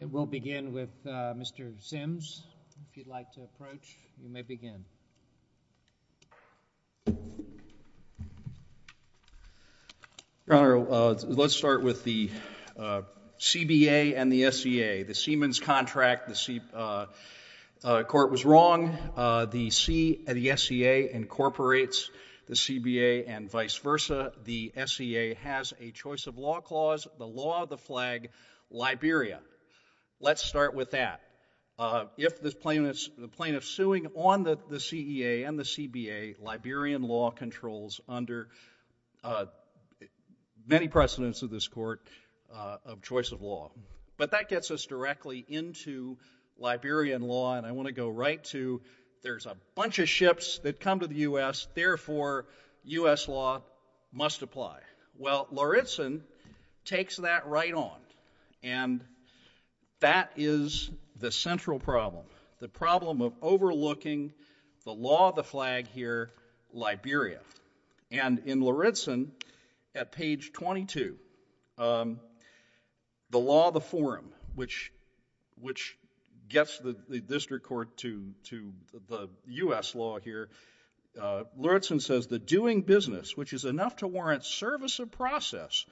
It will begin with Mr. Simms. If you'd like to approach, you may begin. Your Honor, let's start with the CBA and the SEA. The Siemens contract, the court was wrong. The SEA incorporates the CBA and vice versa. The SEA has a choice of law clause, the law, the flag, Liberia. Let's start with that. If the plaintiff's suing on the SEA and the CBA, Liberian law controls under many precedents of this court of choice of law. But that gets us directly into Liberian law, and I want to go right to there's a bunch of ships that come to the U.S., therefore, U.S. law must apply. Well, Lauritsen takes that right on, and that is the central problem, the problem of overlooking the law, the flag here, Liberia. And in Lauritsen, at page 22, the law, the forum, which gets the district court to the U.S. law here, Lauritsen says, the doing business, which is enough to warrant service of process,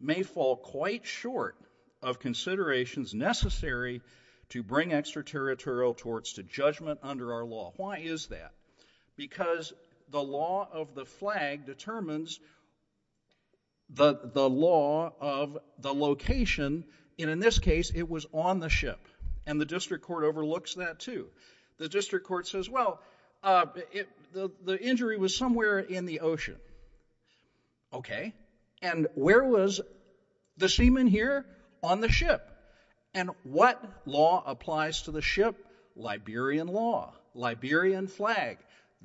may fall quite short of considerations necessary to bring extraterritorial torts to judgment under our law. Why is that? Because the law of the flag determines the law of the location, and in this case, it was on the ship, and the district court overlooks that, too. The district court says, well, the injury was somewhere in the ocean, okay? And where was the seaman here? On the ship. And what law applies to the ship? Liberian law, Liberian flag.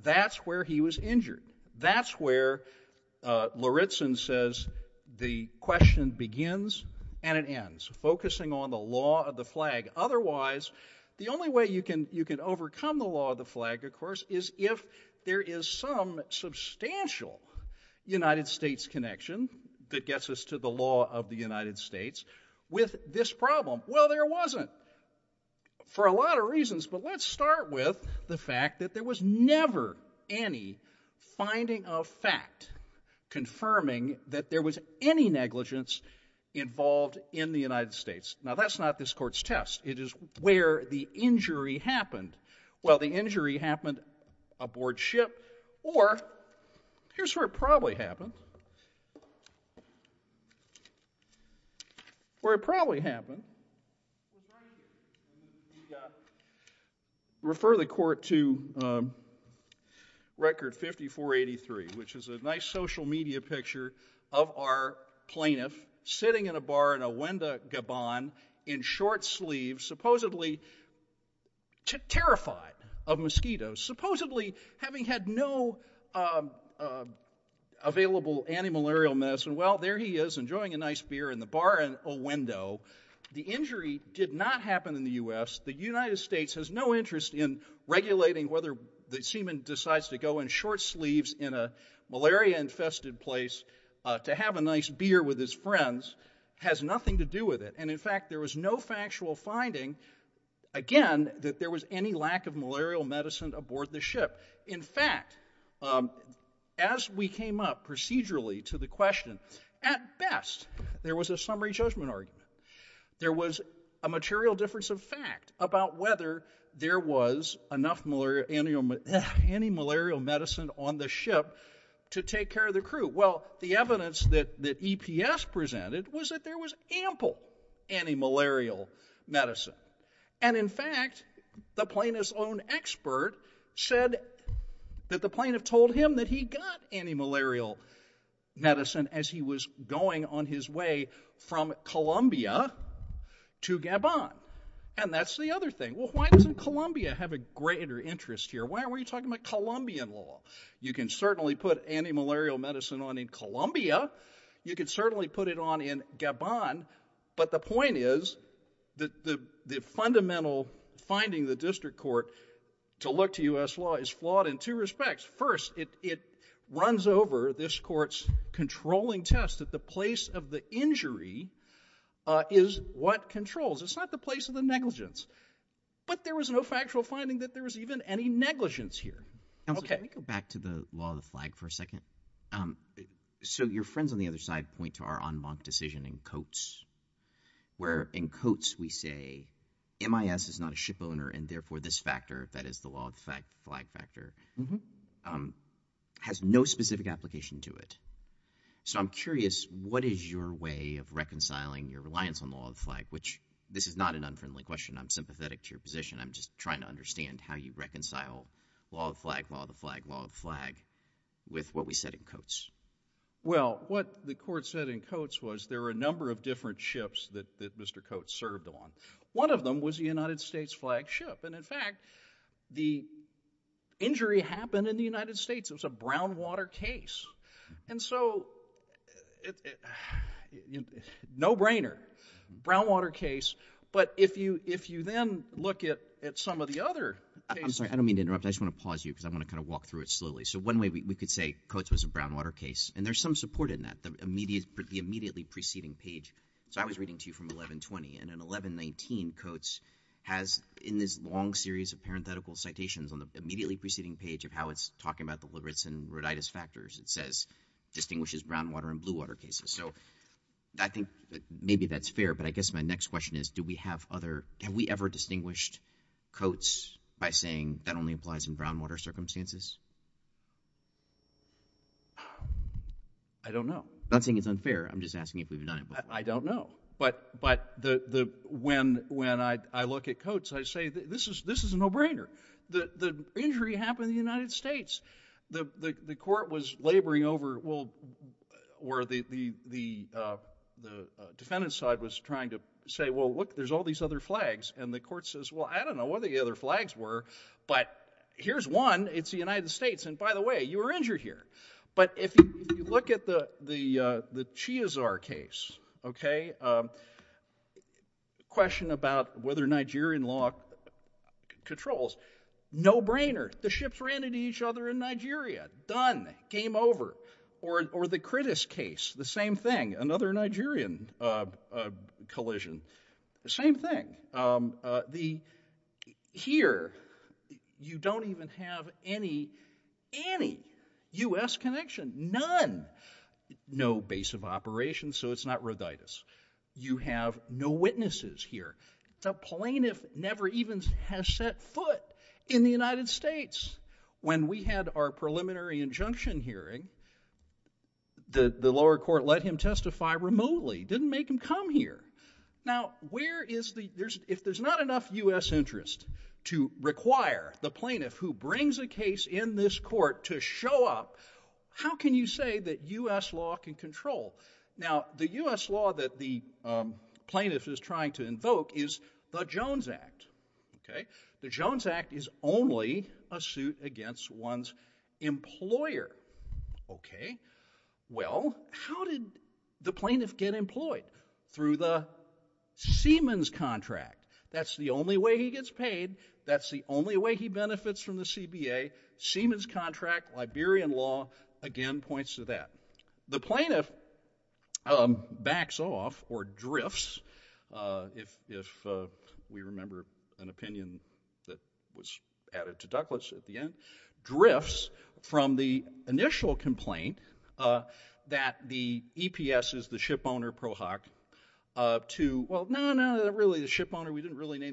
That's where he was injured. That's where Lauritsen says the question begins and it ends, focusing on the law of the flag. Otherwise, the only way you can overcome the law of the flag, of course, is if there is some substantial United States connection that gets us to the law of the United States with this problem. Well, there wasn't, for a lot of reasons, but let's start with the fact that there was never any finding of fact confirming that there was any negligence involved in the United States. Now, that's not this court's test. It is where the injury happened. Well, the injury happened aboard ship, or here's where it probably happened. Where it probably happened, refer the court to record 5483, which is a nice social media picture of our plaintiff sitting in a bar in Owendo, Gabon, in short sleeves, supposedly terrified of mosquitoes, supposedly having had no available antimalarial medicine. Well, there he is enjoying a nice beer in the bar in Owendo. The injury did not happen in the U.S. The United States has no interest in regulating whether the court sleeves in a malaria infested place to have a nice beer with his friends has nothing to do with it. And in fact, there was no factual finding, again, that there was any lack of malarial medicine aboard the ship. In fact, as we came up procedurally to the question, at best, there was a summary judgment argument. There was a material difference of fact about whether there was enough antimalarial medicine on the ship to take care of the crew. Well, the evidence that EPS presented was that there was ample antimalarial medicine. And in fact, the plaintiff's own expert said that the plaintiff told him that he got antimalarial medicine as he was going on his way from Columbia to Gabon. And that's the other thing. Well, why doesn't Columbia have a greater interest here? Why are we talking about Columbian law? You can certainly put antimalarial medicine on in Columbia. You could certainly put it on in Gabon. But the point is that the fundamental finding the district court to look to U.S. law is flawed in two respects. First, it runs over this court's controlling test that the place of the injury is what controls. It's not the place of the negligence. But there was no factual finding that there was even any negligence here. Okay. Let me go back to the law of the flag for a second. So your friends on the other side point to our en banc decision in Coates, where in Coates we say MIS is not a shipowner and therefore this flag factor has no specific application to it. So I'm curious, what is your way of reconciling your reliance on law of the flag, which this is not an unfriendly question. I'm sympathetic to your position. I'm just trying to understand how you reconcile law of the flag, law of the flag, law of the flag with what we said in Coates. Well, what the court said in Coates was there were a number of different ships that Mr. Coates served on. One of them was the United States flagged ship. And in fact, the injury happened in the United States. It was a brown water case. And so, no brainer, brown water case. But if you then look at some of the other cases. I'm sorry, I don't mean to interrupt. I just want to pause you because I want to kind of walk through it slowly. So one way we could say Coates was a brown water case, and there's some support in that. The immediately preceding page, so I was reading to you from 1120, and in 1119, Coates has in this long series of parenthetical citations on the immediately preceding page of how it's talking about the Lewis and Rhoditis factors, it says distinguishes brown water and blue water cases. So I think maybe that's fair. But I guess my next question is, do we have other, have we ever distinguished Coates by saying that only applies in brown water circumstances? I don't know. I'm not saying it's unfair. I'm just asking if we've done it. I don't know. But when I look at Coates, I say this is a no brainer. The injury happened in the United States. The court was laboring over, or the defendant's side was trying to say, well, look, there's all these other flags. And the court says, well, I don't know what the other flags were, but here's one. It's the United States. And by the way, you were injured here. But if you look at the Chiazar case, okay, question about whether Nigerian law controls, no brainer. The ships ran into each other in Nigeria. Done. Game over. Or the Crittis case, the same thing. Another Nigerian collision. The same thing. Here, you don't even have any, any US connection. None. No base of operations, so it's not rhoditis. You have no witnesses here. The plaintiff never even has set foot in the United States. When we had our preliminary injunction hearing, the lower court let him testify remotely. Didn't make him come here. Now, where is the, if there's not enough US interest to require the plaintiff who brings a case in this court to show up, how can you say that US law can control? Now, the US law that the plaintiff is trying to invoke is the Jones Act. Okay. The Jones Act is only a suit against one's employer. Okay. Well, how did the plaintiff get employed? Through the Seaman's contract. That's the only way he gets paid. That's the only way he benefits from the CBA. Seaman's contract, Liberian law, again, points to that. The plaintiff backs off or drifts, if we remember an opinion that was added to Douglas at the end, drifts from the initial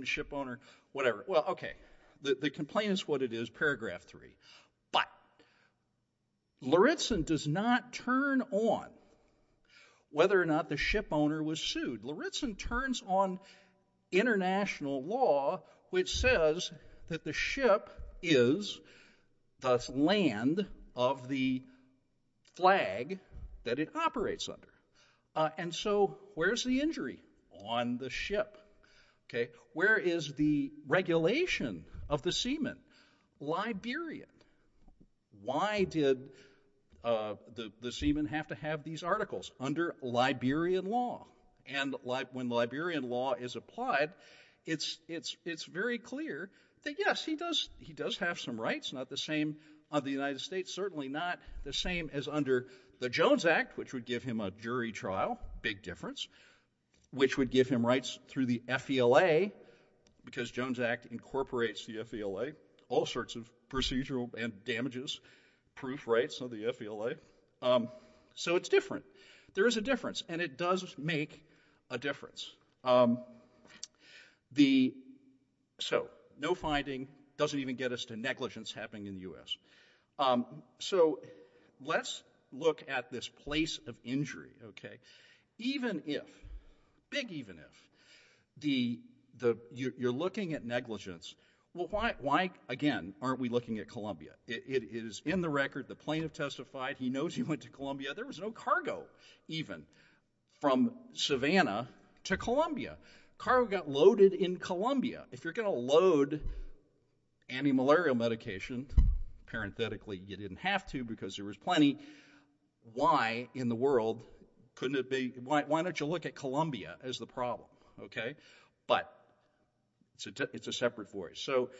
ship owner, whatever. Well, okay. The complaint is what it is. Paragraph three. But Lauritzen does not turn on whether or not the ship owner was sued. Lauritzen turns on international law, which says that the ship is the land of the flag that it operates under. And so where's the injury? On the ship. Okay. Where is the regulation of the Seaman? Liberian. Why did the Seaman have to have these articles? Under Liberian law. And when Liberian law is applied, it's very clear that yes, he does have some rights, not the same of the United States, certainly not the same as under the Jones Act, which would give him a jury trial, big difference, which would give him rights through the FVLA because Jones Act incorporates the FVLA, all sorts of procedural damages, proof rights of the FVLA. So it's different. There is a difference and it does make a difference. So no finding doesn't even get us to negligence happening in the US. So let's look at this place of injury. Okay. Even if, big even if, you're looking at negligence. Well, why again, aren't we looking at Columbia? It is in the record. The plaintiff testified. He knows he went to Columbia. There was no cargo even from Savannah to Columbia. Cargo got loaded in Columbia. If you're going to load antimalarial medication, parenthetically, you didn't have to because there was plenty. Why in the world couldn't it be, why don't you look at Columbia as the problem? Okay. But it's a separate voice. So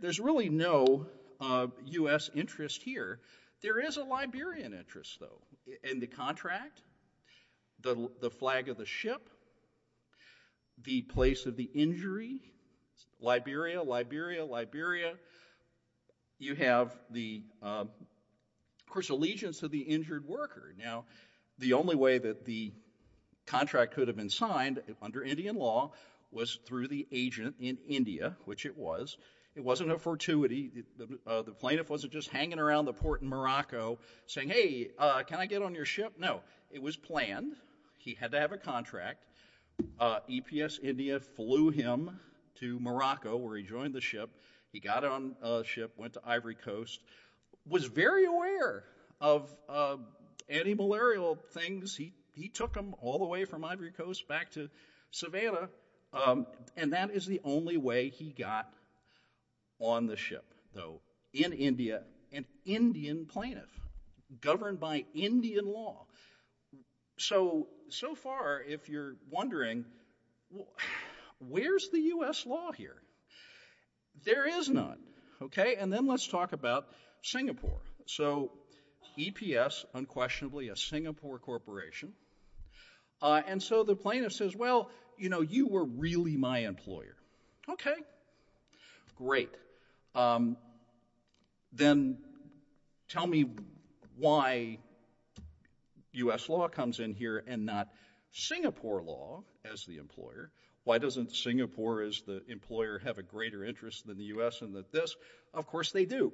there's really no US interest here. There is a injury. Liberia, Liberia, Liberia. You have the, of course, allegiance to the injured worker. Now, the only way that the contract could have been signed under Indian law was through the agent in India, which it was. It wasn't a fortuity. The plaintiff wasn't just hanging around the port in Morocco saying, hey, can I get on your ship? No. It was planned. He had to have a contract. EPS India flew him to Morocco where he joined the ship. He got on a ship, went to Ivory Coast, was very aware of antimalarial things. He took him all the way from Ivory Coast back to Savannah, and that is the only way he got on the ship, though, in India, an Indian plaintiff governed by Indian law. So, so far, if you're wondering, where's the US law here? There is none. Okay. And then let's talk about Singapore. So EPS, unquestionably a Singapore corporation. And so the plaintiff says, well, you know, you were really my employer. Okay. Great. Then tell me why US law comes in here and not Singapore law as the employer? Why doesn't Singapore as the employer have a greater interest than the US in this? Of course they do.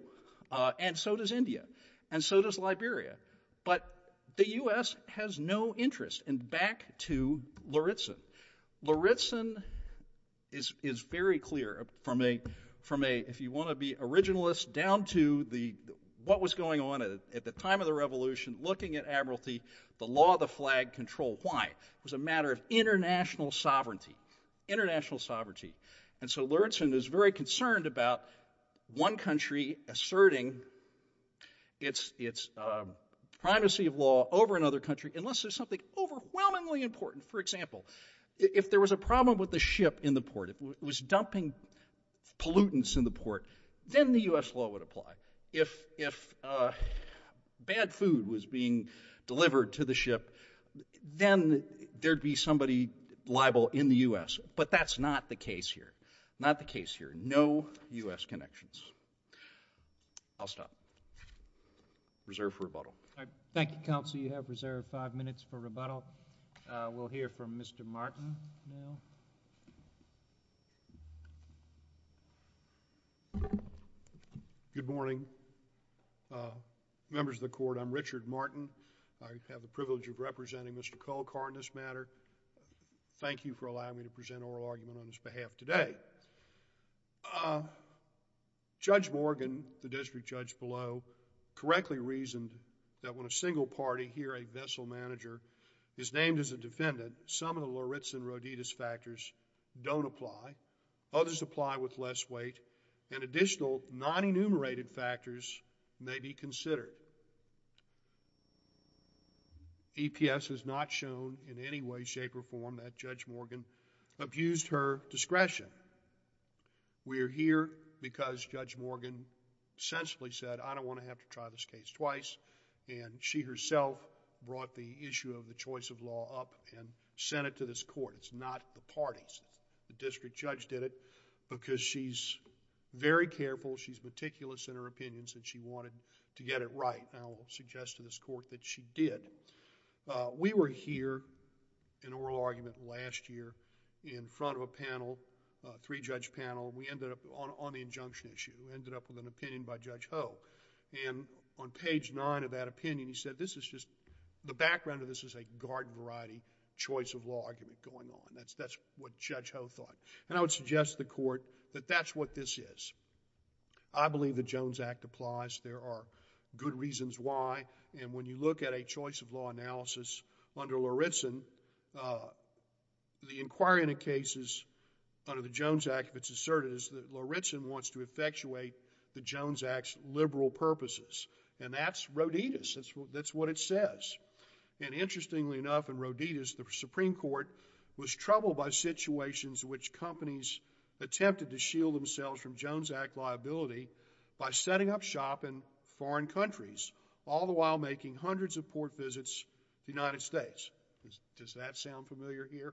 And so does India. And so does Liberia. But the US has no interest. And back to Lauritzen. Lauritzen is, is very clear from a, from a, if you want to be originalist down to the, what was going on at the time of the revolution, looking at admiralty, the law of the flag control. Why? It was a matter of international sovereignty, international sovereignty. And so Lauritzen is very concerned about one country asserting its, its privacy of law over another country, unless there's something overwhelmingly important. For example, if there was a problem with the ship in the port, if it was dumping pollutants in the port, then the US law would apply. If, if bad food was being delivered to the ship, then there'd be somebody liable in the US, but that's not the case here. Not the case here. No US connections. I'll stop. Reserve for rebuttal. Thank you, Counsel. You have reserved five minutes for rebuttal. We'll hear from Mr. Martin now. Good morning. Members of the Court, I'm Richard Martin. I have the privilege of representing Mr. Cole-Carr on this matter. Thank you for allowing me to present oral argument on his behalf today. Judge Morgan, the district judge below, correctly reasoned that when a single party, here a vessel manager, is named as a defendant, some of the Lauritzen-Roditas factors don't apply. Others apply with less weight, and additional non-enumerated factors may be considered. EPS has not shown in any way, shape, or form that Judge Morgan abused her discretion. We're here because Judge Morgan sensibly said, I don't want to have to try this case twice, and she herself brought the issue of the choice of law up and sent it to this Court. It's not the parties. The district judge did it because she's very careful, she's meticulous in her opinions, and she wanted to get it right, and I'll suggest to this Court that she did. We were here in oral argument last year in front of a panel, three-judge panel, we ended up on the injunction issue. We ended up with an opinion by Judge Ho, and on page nine of that opinion, he said, this is just, the background of this is a garden variety choice of law argument going on. That's what Judge Ho thought, and I would suggest to the Court that that's what this is. I believe the Jones Act applies. There are good reasons why, and when you look at a choice of law analysis under Lauritzen, the inquiry into cases under the Jones Act, if it's asserted, is that Lauritzen wants to effectuate the Jones Act's liberal purposes, and that's Roditas. That's what it says, and interestingly enough, in Roditas, the Supreme Court was troubled by situations in which companies attempted to shield themselves from Jones Act liability by setting up shop in foreign countries, all the while making hundreds of port visits to the United States. Does that sound familiar here?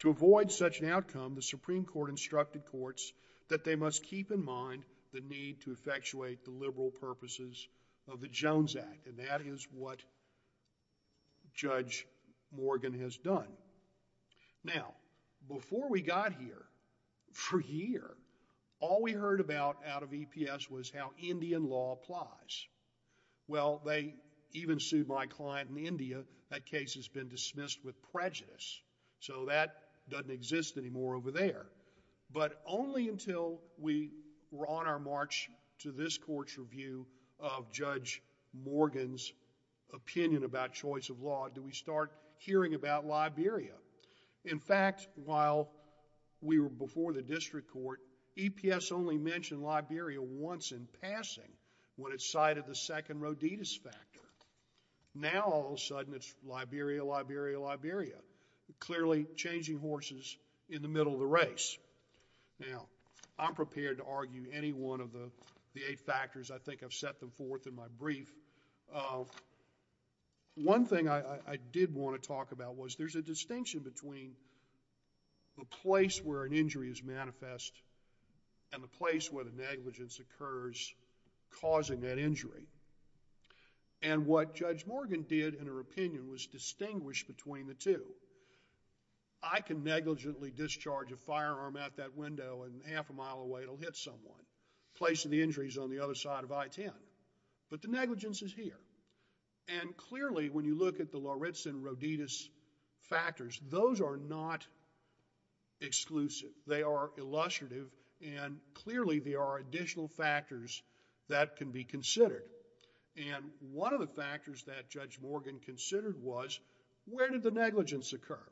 To avoid such an outcome, the Supreme Court instructed courts that they must keep in mind the need to effectuate the liberal purposes of the Jones Act, and that is what Judge Morgan has done. Now, before we got here, for a year, all we heard about out of EPS was how Indian law applies. Well, they even sued my client in India. That case has been dismissed with prejudice, so that doesn't exist anymore over there, but only until we were on our march to this In fact, while we were before the district court, EPS only mentioned Liberia once in passing when it cited the second Roditas factor. Now, all of a sudden, it's Liberia, Liberia, Liberia, clearly changing horses in the middle of the race. Now, I'm prepared to argue any one of the eight factors. I think I've set them forth in my brief. One thing I did want to talk about was there's a distinction between the place where an injury is manifest and the place where the negligence occurs causing that injury, and what Judge Morgan did in her opinion was distinguish between the two. I can negligently discharge a firearm out that window and half a mile away it'll hit someone, placing the injuries on the other side of I-10, but the negligence is here, and clearly when you look at the Loretz and Roditas factors, those are not exclusive. They are illustrative, and clearly there are additional factors that can be considered, and one of the factors that Judge Morgan considered was where did the negligence occur?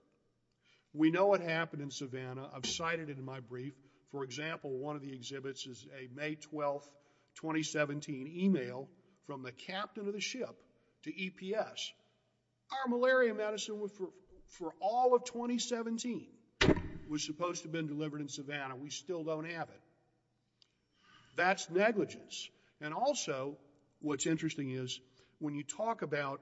We know what happened in Savannah. I've cited it in my brief. For example, one of the exhibits is a May 12, 2017 email from the captain of the ship to EPS. Our malaria medicine for all of 2017 was supposed to have been delivered in Savannah. We still don't have it. That's negligence, and also what's interesting is when you talk about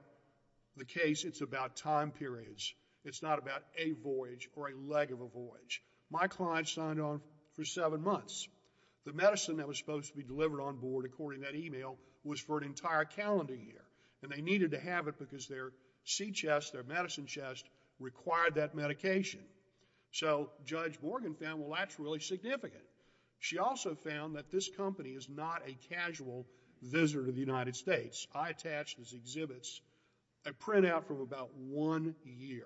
the case, it's about time periods. It's not about a voyage or a leg of a voyage. My client signed on for 11 months. The medicine that was supposed to be delivered on board according to that email was for an entire calendar year, and they needed to have it because their sea chest, their medicine chest required that medication, so Judge Morgan found, well, that's really significant. She also found that this company is not a casual visitor to the United States. I attached to these exhibits a printout from about one year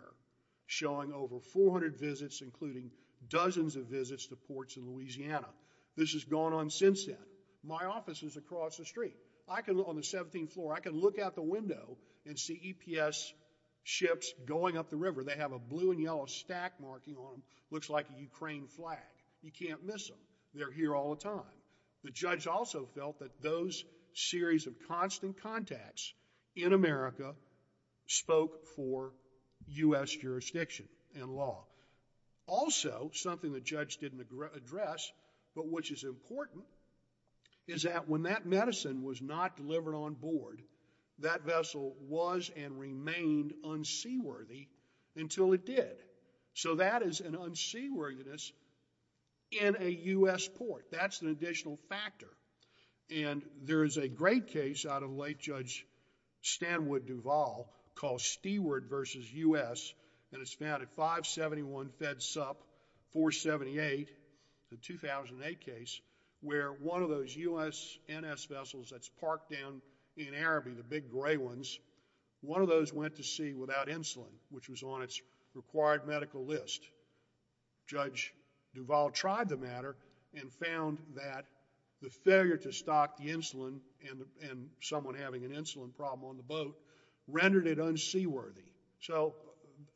showing over 400 visits, including dozens of visits to ports in Louisiana. This has gone on since then. My office is across the street. I can, on the 17th floor, I can look out the window and see EPS ships going up the river. They have a blue and yellow stack marking on them. Looks like a Ukraine flag. You can't miss them. They're here all the time. The judge also felt that those series of constant contacts in America spoke for U.S. jurisdiction and law. Also, something the judge didn't address, but which is important, is that when that medicine was not delivered on board, that vessel was and remained unseaworthy until it did, so that is an unseaworthiness in a U.S. port. That's an additional factor, and there is a great case out of late Judge Stanwood Duvall called Steward v. U.S. and it's found at 571 Fed Sup, 478, the 2008 case, where one of those U.S. NS vessels that's parked down in Araby, the big gray ones, one of those went to sea without insulin, which was on its required medical list. Judge Duvall tried the matter and found that the failure to stock the insulin and someone having an insulin problem on the boat rendered it unseaworthy, so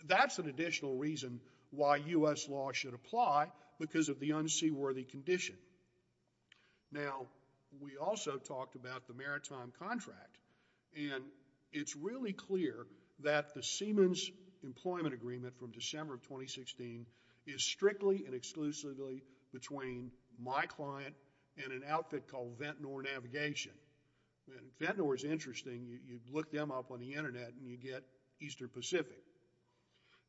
that's an additional reason why U.S. law should apply because of the unseaworthy condition. Now, we also talked about the maritime contract, and it's really clear that the Seaman's Employment Agreement from December of 2016 is strictly and exclusively between my client and an outfit called Ventnor Navigation, and Ventnor is interesting. You look them up on the internet and you get Eastern Pacific,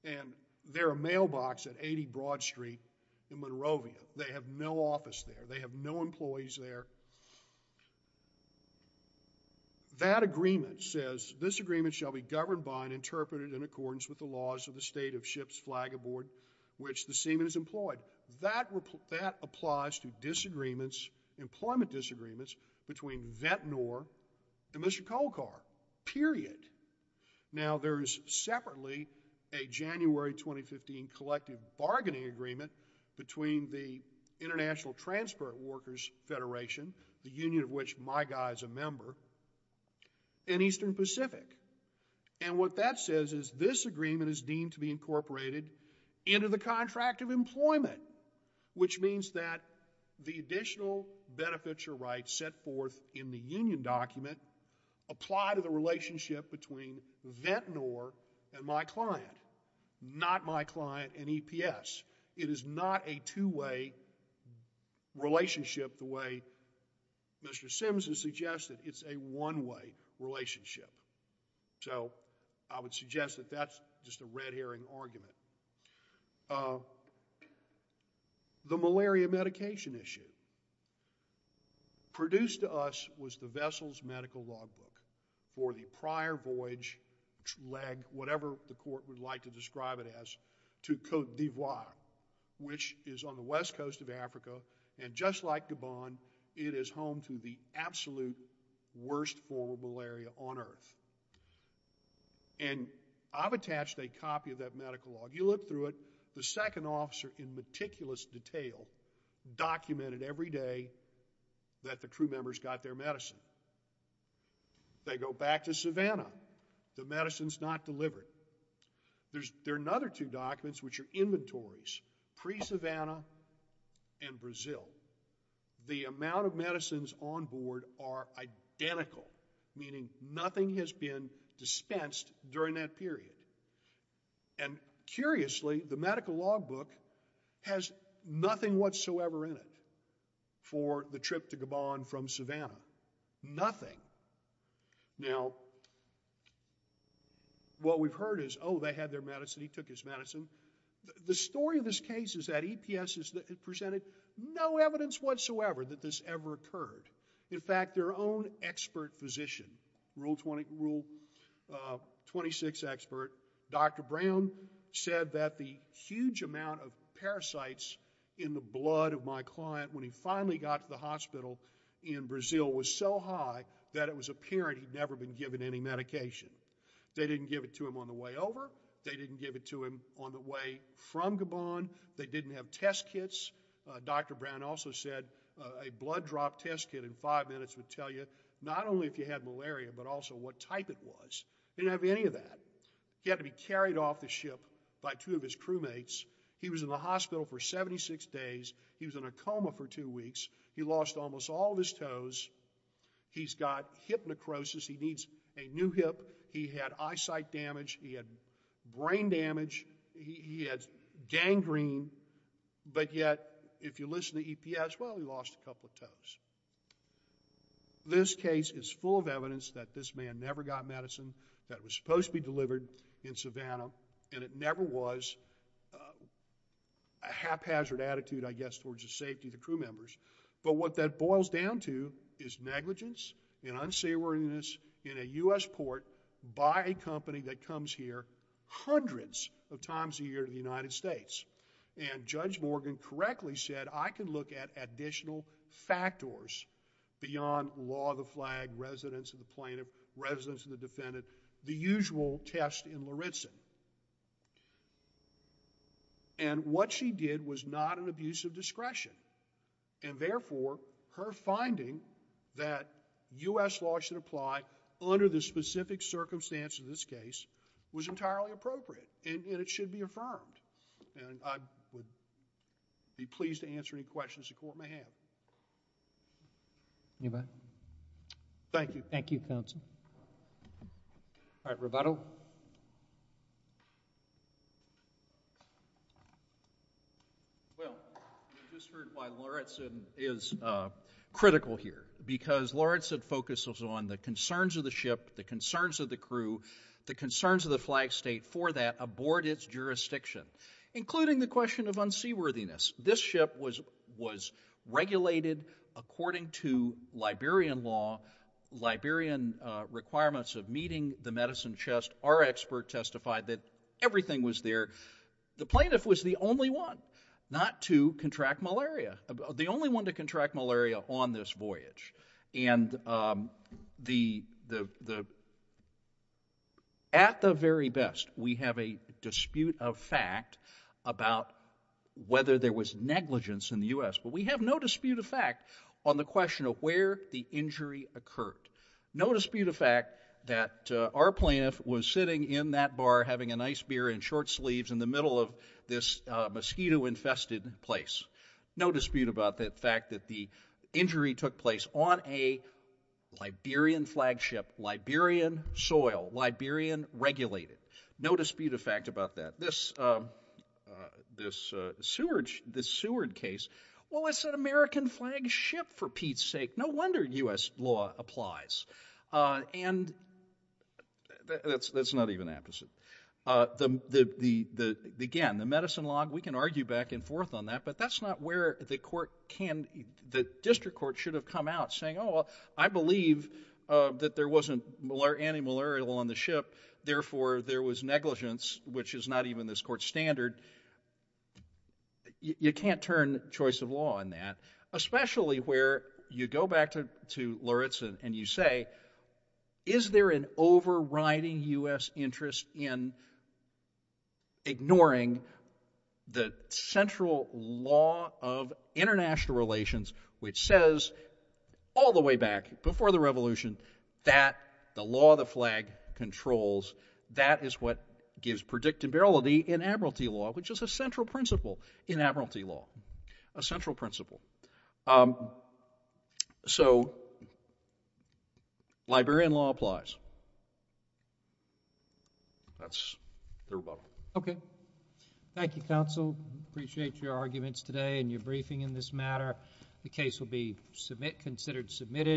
and they're a mailbox at 80 Broad Street in Monrovia. They have no office there. They have no employees there. That agreement says, this agreement shall be governed by and of ships flag aboard which the Seaman is employed. That applies to disagreements, employment disagreements, between Ventnor and Mr. Colcar, period. Now, there's separately a January 2015 collective bargaining agreement between the International Transport Workers Federation, the union of which my guy is a member, and Eastern Pacific, and what that says is this into the contract of employment, which means that the additional benefits or rights set forth in the union document apply to the relationship between Ventnor and my client, not my client and EPS. It is not a two-way relationship the way Mr. Simms has suggested. It's a one-way relationship. So, I would suggest that that's just a red herring argument. The malaria medication issue. Produced to us was the vessel's medical logbook for the prior voyage leg, whatever the court would like to describe it as, to Cote d'Ivoire, which is on the west on earth. And I've attached a copy of that medical log. You look through it, the second officer in meticulous detail documented every day that the crew members got their medicine. They go back to Savannah. The medicine's not delivered. There's another two documents, which are inventories, pre-Savannah and Brazil. The amount of medicines on board are identical, meaning nothing has been dispensed during that period. And curiously, the medical logbook has nothing whatsoever in it for the trip to Gabon from Savannah. Nothing. Now, what we've heard is, oh, they had their medicine. He took his medicine. The story of this case is that EPS has presented no evidence whatsoever that this ever occurred. In fact, their own expert physician, Rule 26 expert, Dr. Brown, said that the huge amount of parasites in the blood of my client when he finally got to the hospital in Brazil was so high that it was apparent he'd never been given any medication. They didn't give it to him on the way over. They didn't give it to him on the way from Gabon. They didn't have test kits. Dr. Brown also said a blood drop test kit in five minutes would tell you not only if you had malaria but also what type it was. He didn't have any of that. He had to be carried off the ship by two of his crewmates. He was in the hospital for 76 days. He was in a coma for two weeks. He lost almost all of his toes. He's got hip necrosis. He needs a new hip. He had eyesight damage. He had brain green, but yet if you listen to EPS, well, he lost a couple of toes. This case is full of evidence that this man never got medicine that was supposed to be delivered in Savannah and it never was a haphazard attitude, I guess, towards the safety of the crew members, but what that boils down to is negligence and unsavoriness in a U.S. port by a company that comes here hundreds of times a year to the United States. Judge Morgan correctly said, I can look at additional factors beyond law of the flag, residence of the plaintiff, residence of the defendant, the usual test in Lawrenson. What she did was not an abuse of discretion and therefore her finding that U.S. law should apply under the specific circumstances of this case was entirely appropriate and it should be affirmed and I would be pleased to answer any questions the court may have. Anybody? Thank you. Thank you, counsel. All right, Roberto. Well, you just heard why Lawrenson is critical here because Lawrenson focuses on the concerns of the ship, the concerns of the crew, the concerns of the flag state for that aboard its jurisdiction, including the question of unseaworthiness. This ship was regulated according to Liberian law, Liberian requirements of meeting the medicine chest. Our expert testified that everything was there. The plaintiff was the only one not to contract malaria, the only one to the at the very best. We have a dispute of fact about whether there was negligence in the U.S., but we have no dispute of fact on the question of where the injury occurred. No dispute of fact that our plaintiff was sitting in that bar having a nice beer in short sleeves in the middle of this mosquito infested place. No dispute about the fact that the injury took place on a Liberian flagship, Liberian soil, Liberian regulated. No dispute of fact about that. This Seward case, well, it's an American flagship for Pete's sake. No wonder U.S. law applies. And that's not even the opposite. Again, the medicine log, we can argue back and forth on that, but that's not where the court can, the district court should have come out saying, I believe that there wasn't antimalarial on the ship, therefore there was negligence, which is not even this court standard. You can't turn choice of law in that, especially where you go back to Luritz and you say, is there an overriding U.S. interest in the issue? Okay, we can argue back and forth. You can argue back and forth. That the law of the flag controls, that is what gives predictability in admiralty law, which is a central principle in admiralty law, a central principle. So, Liberian law applies. That's the rebuttal. Thank you, counsel. Appreciate your arguments today and your briefing in this matter. The case will be considered submitted.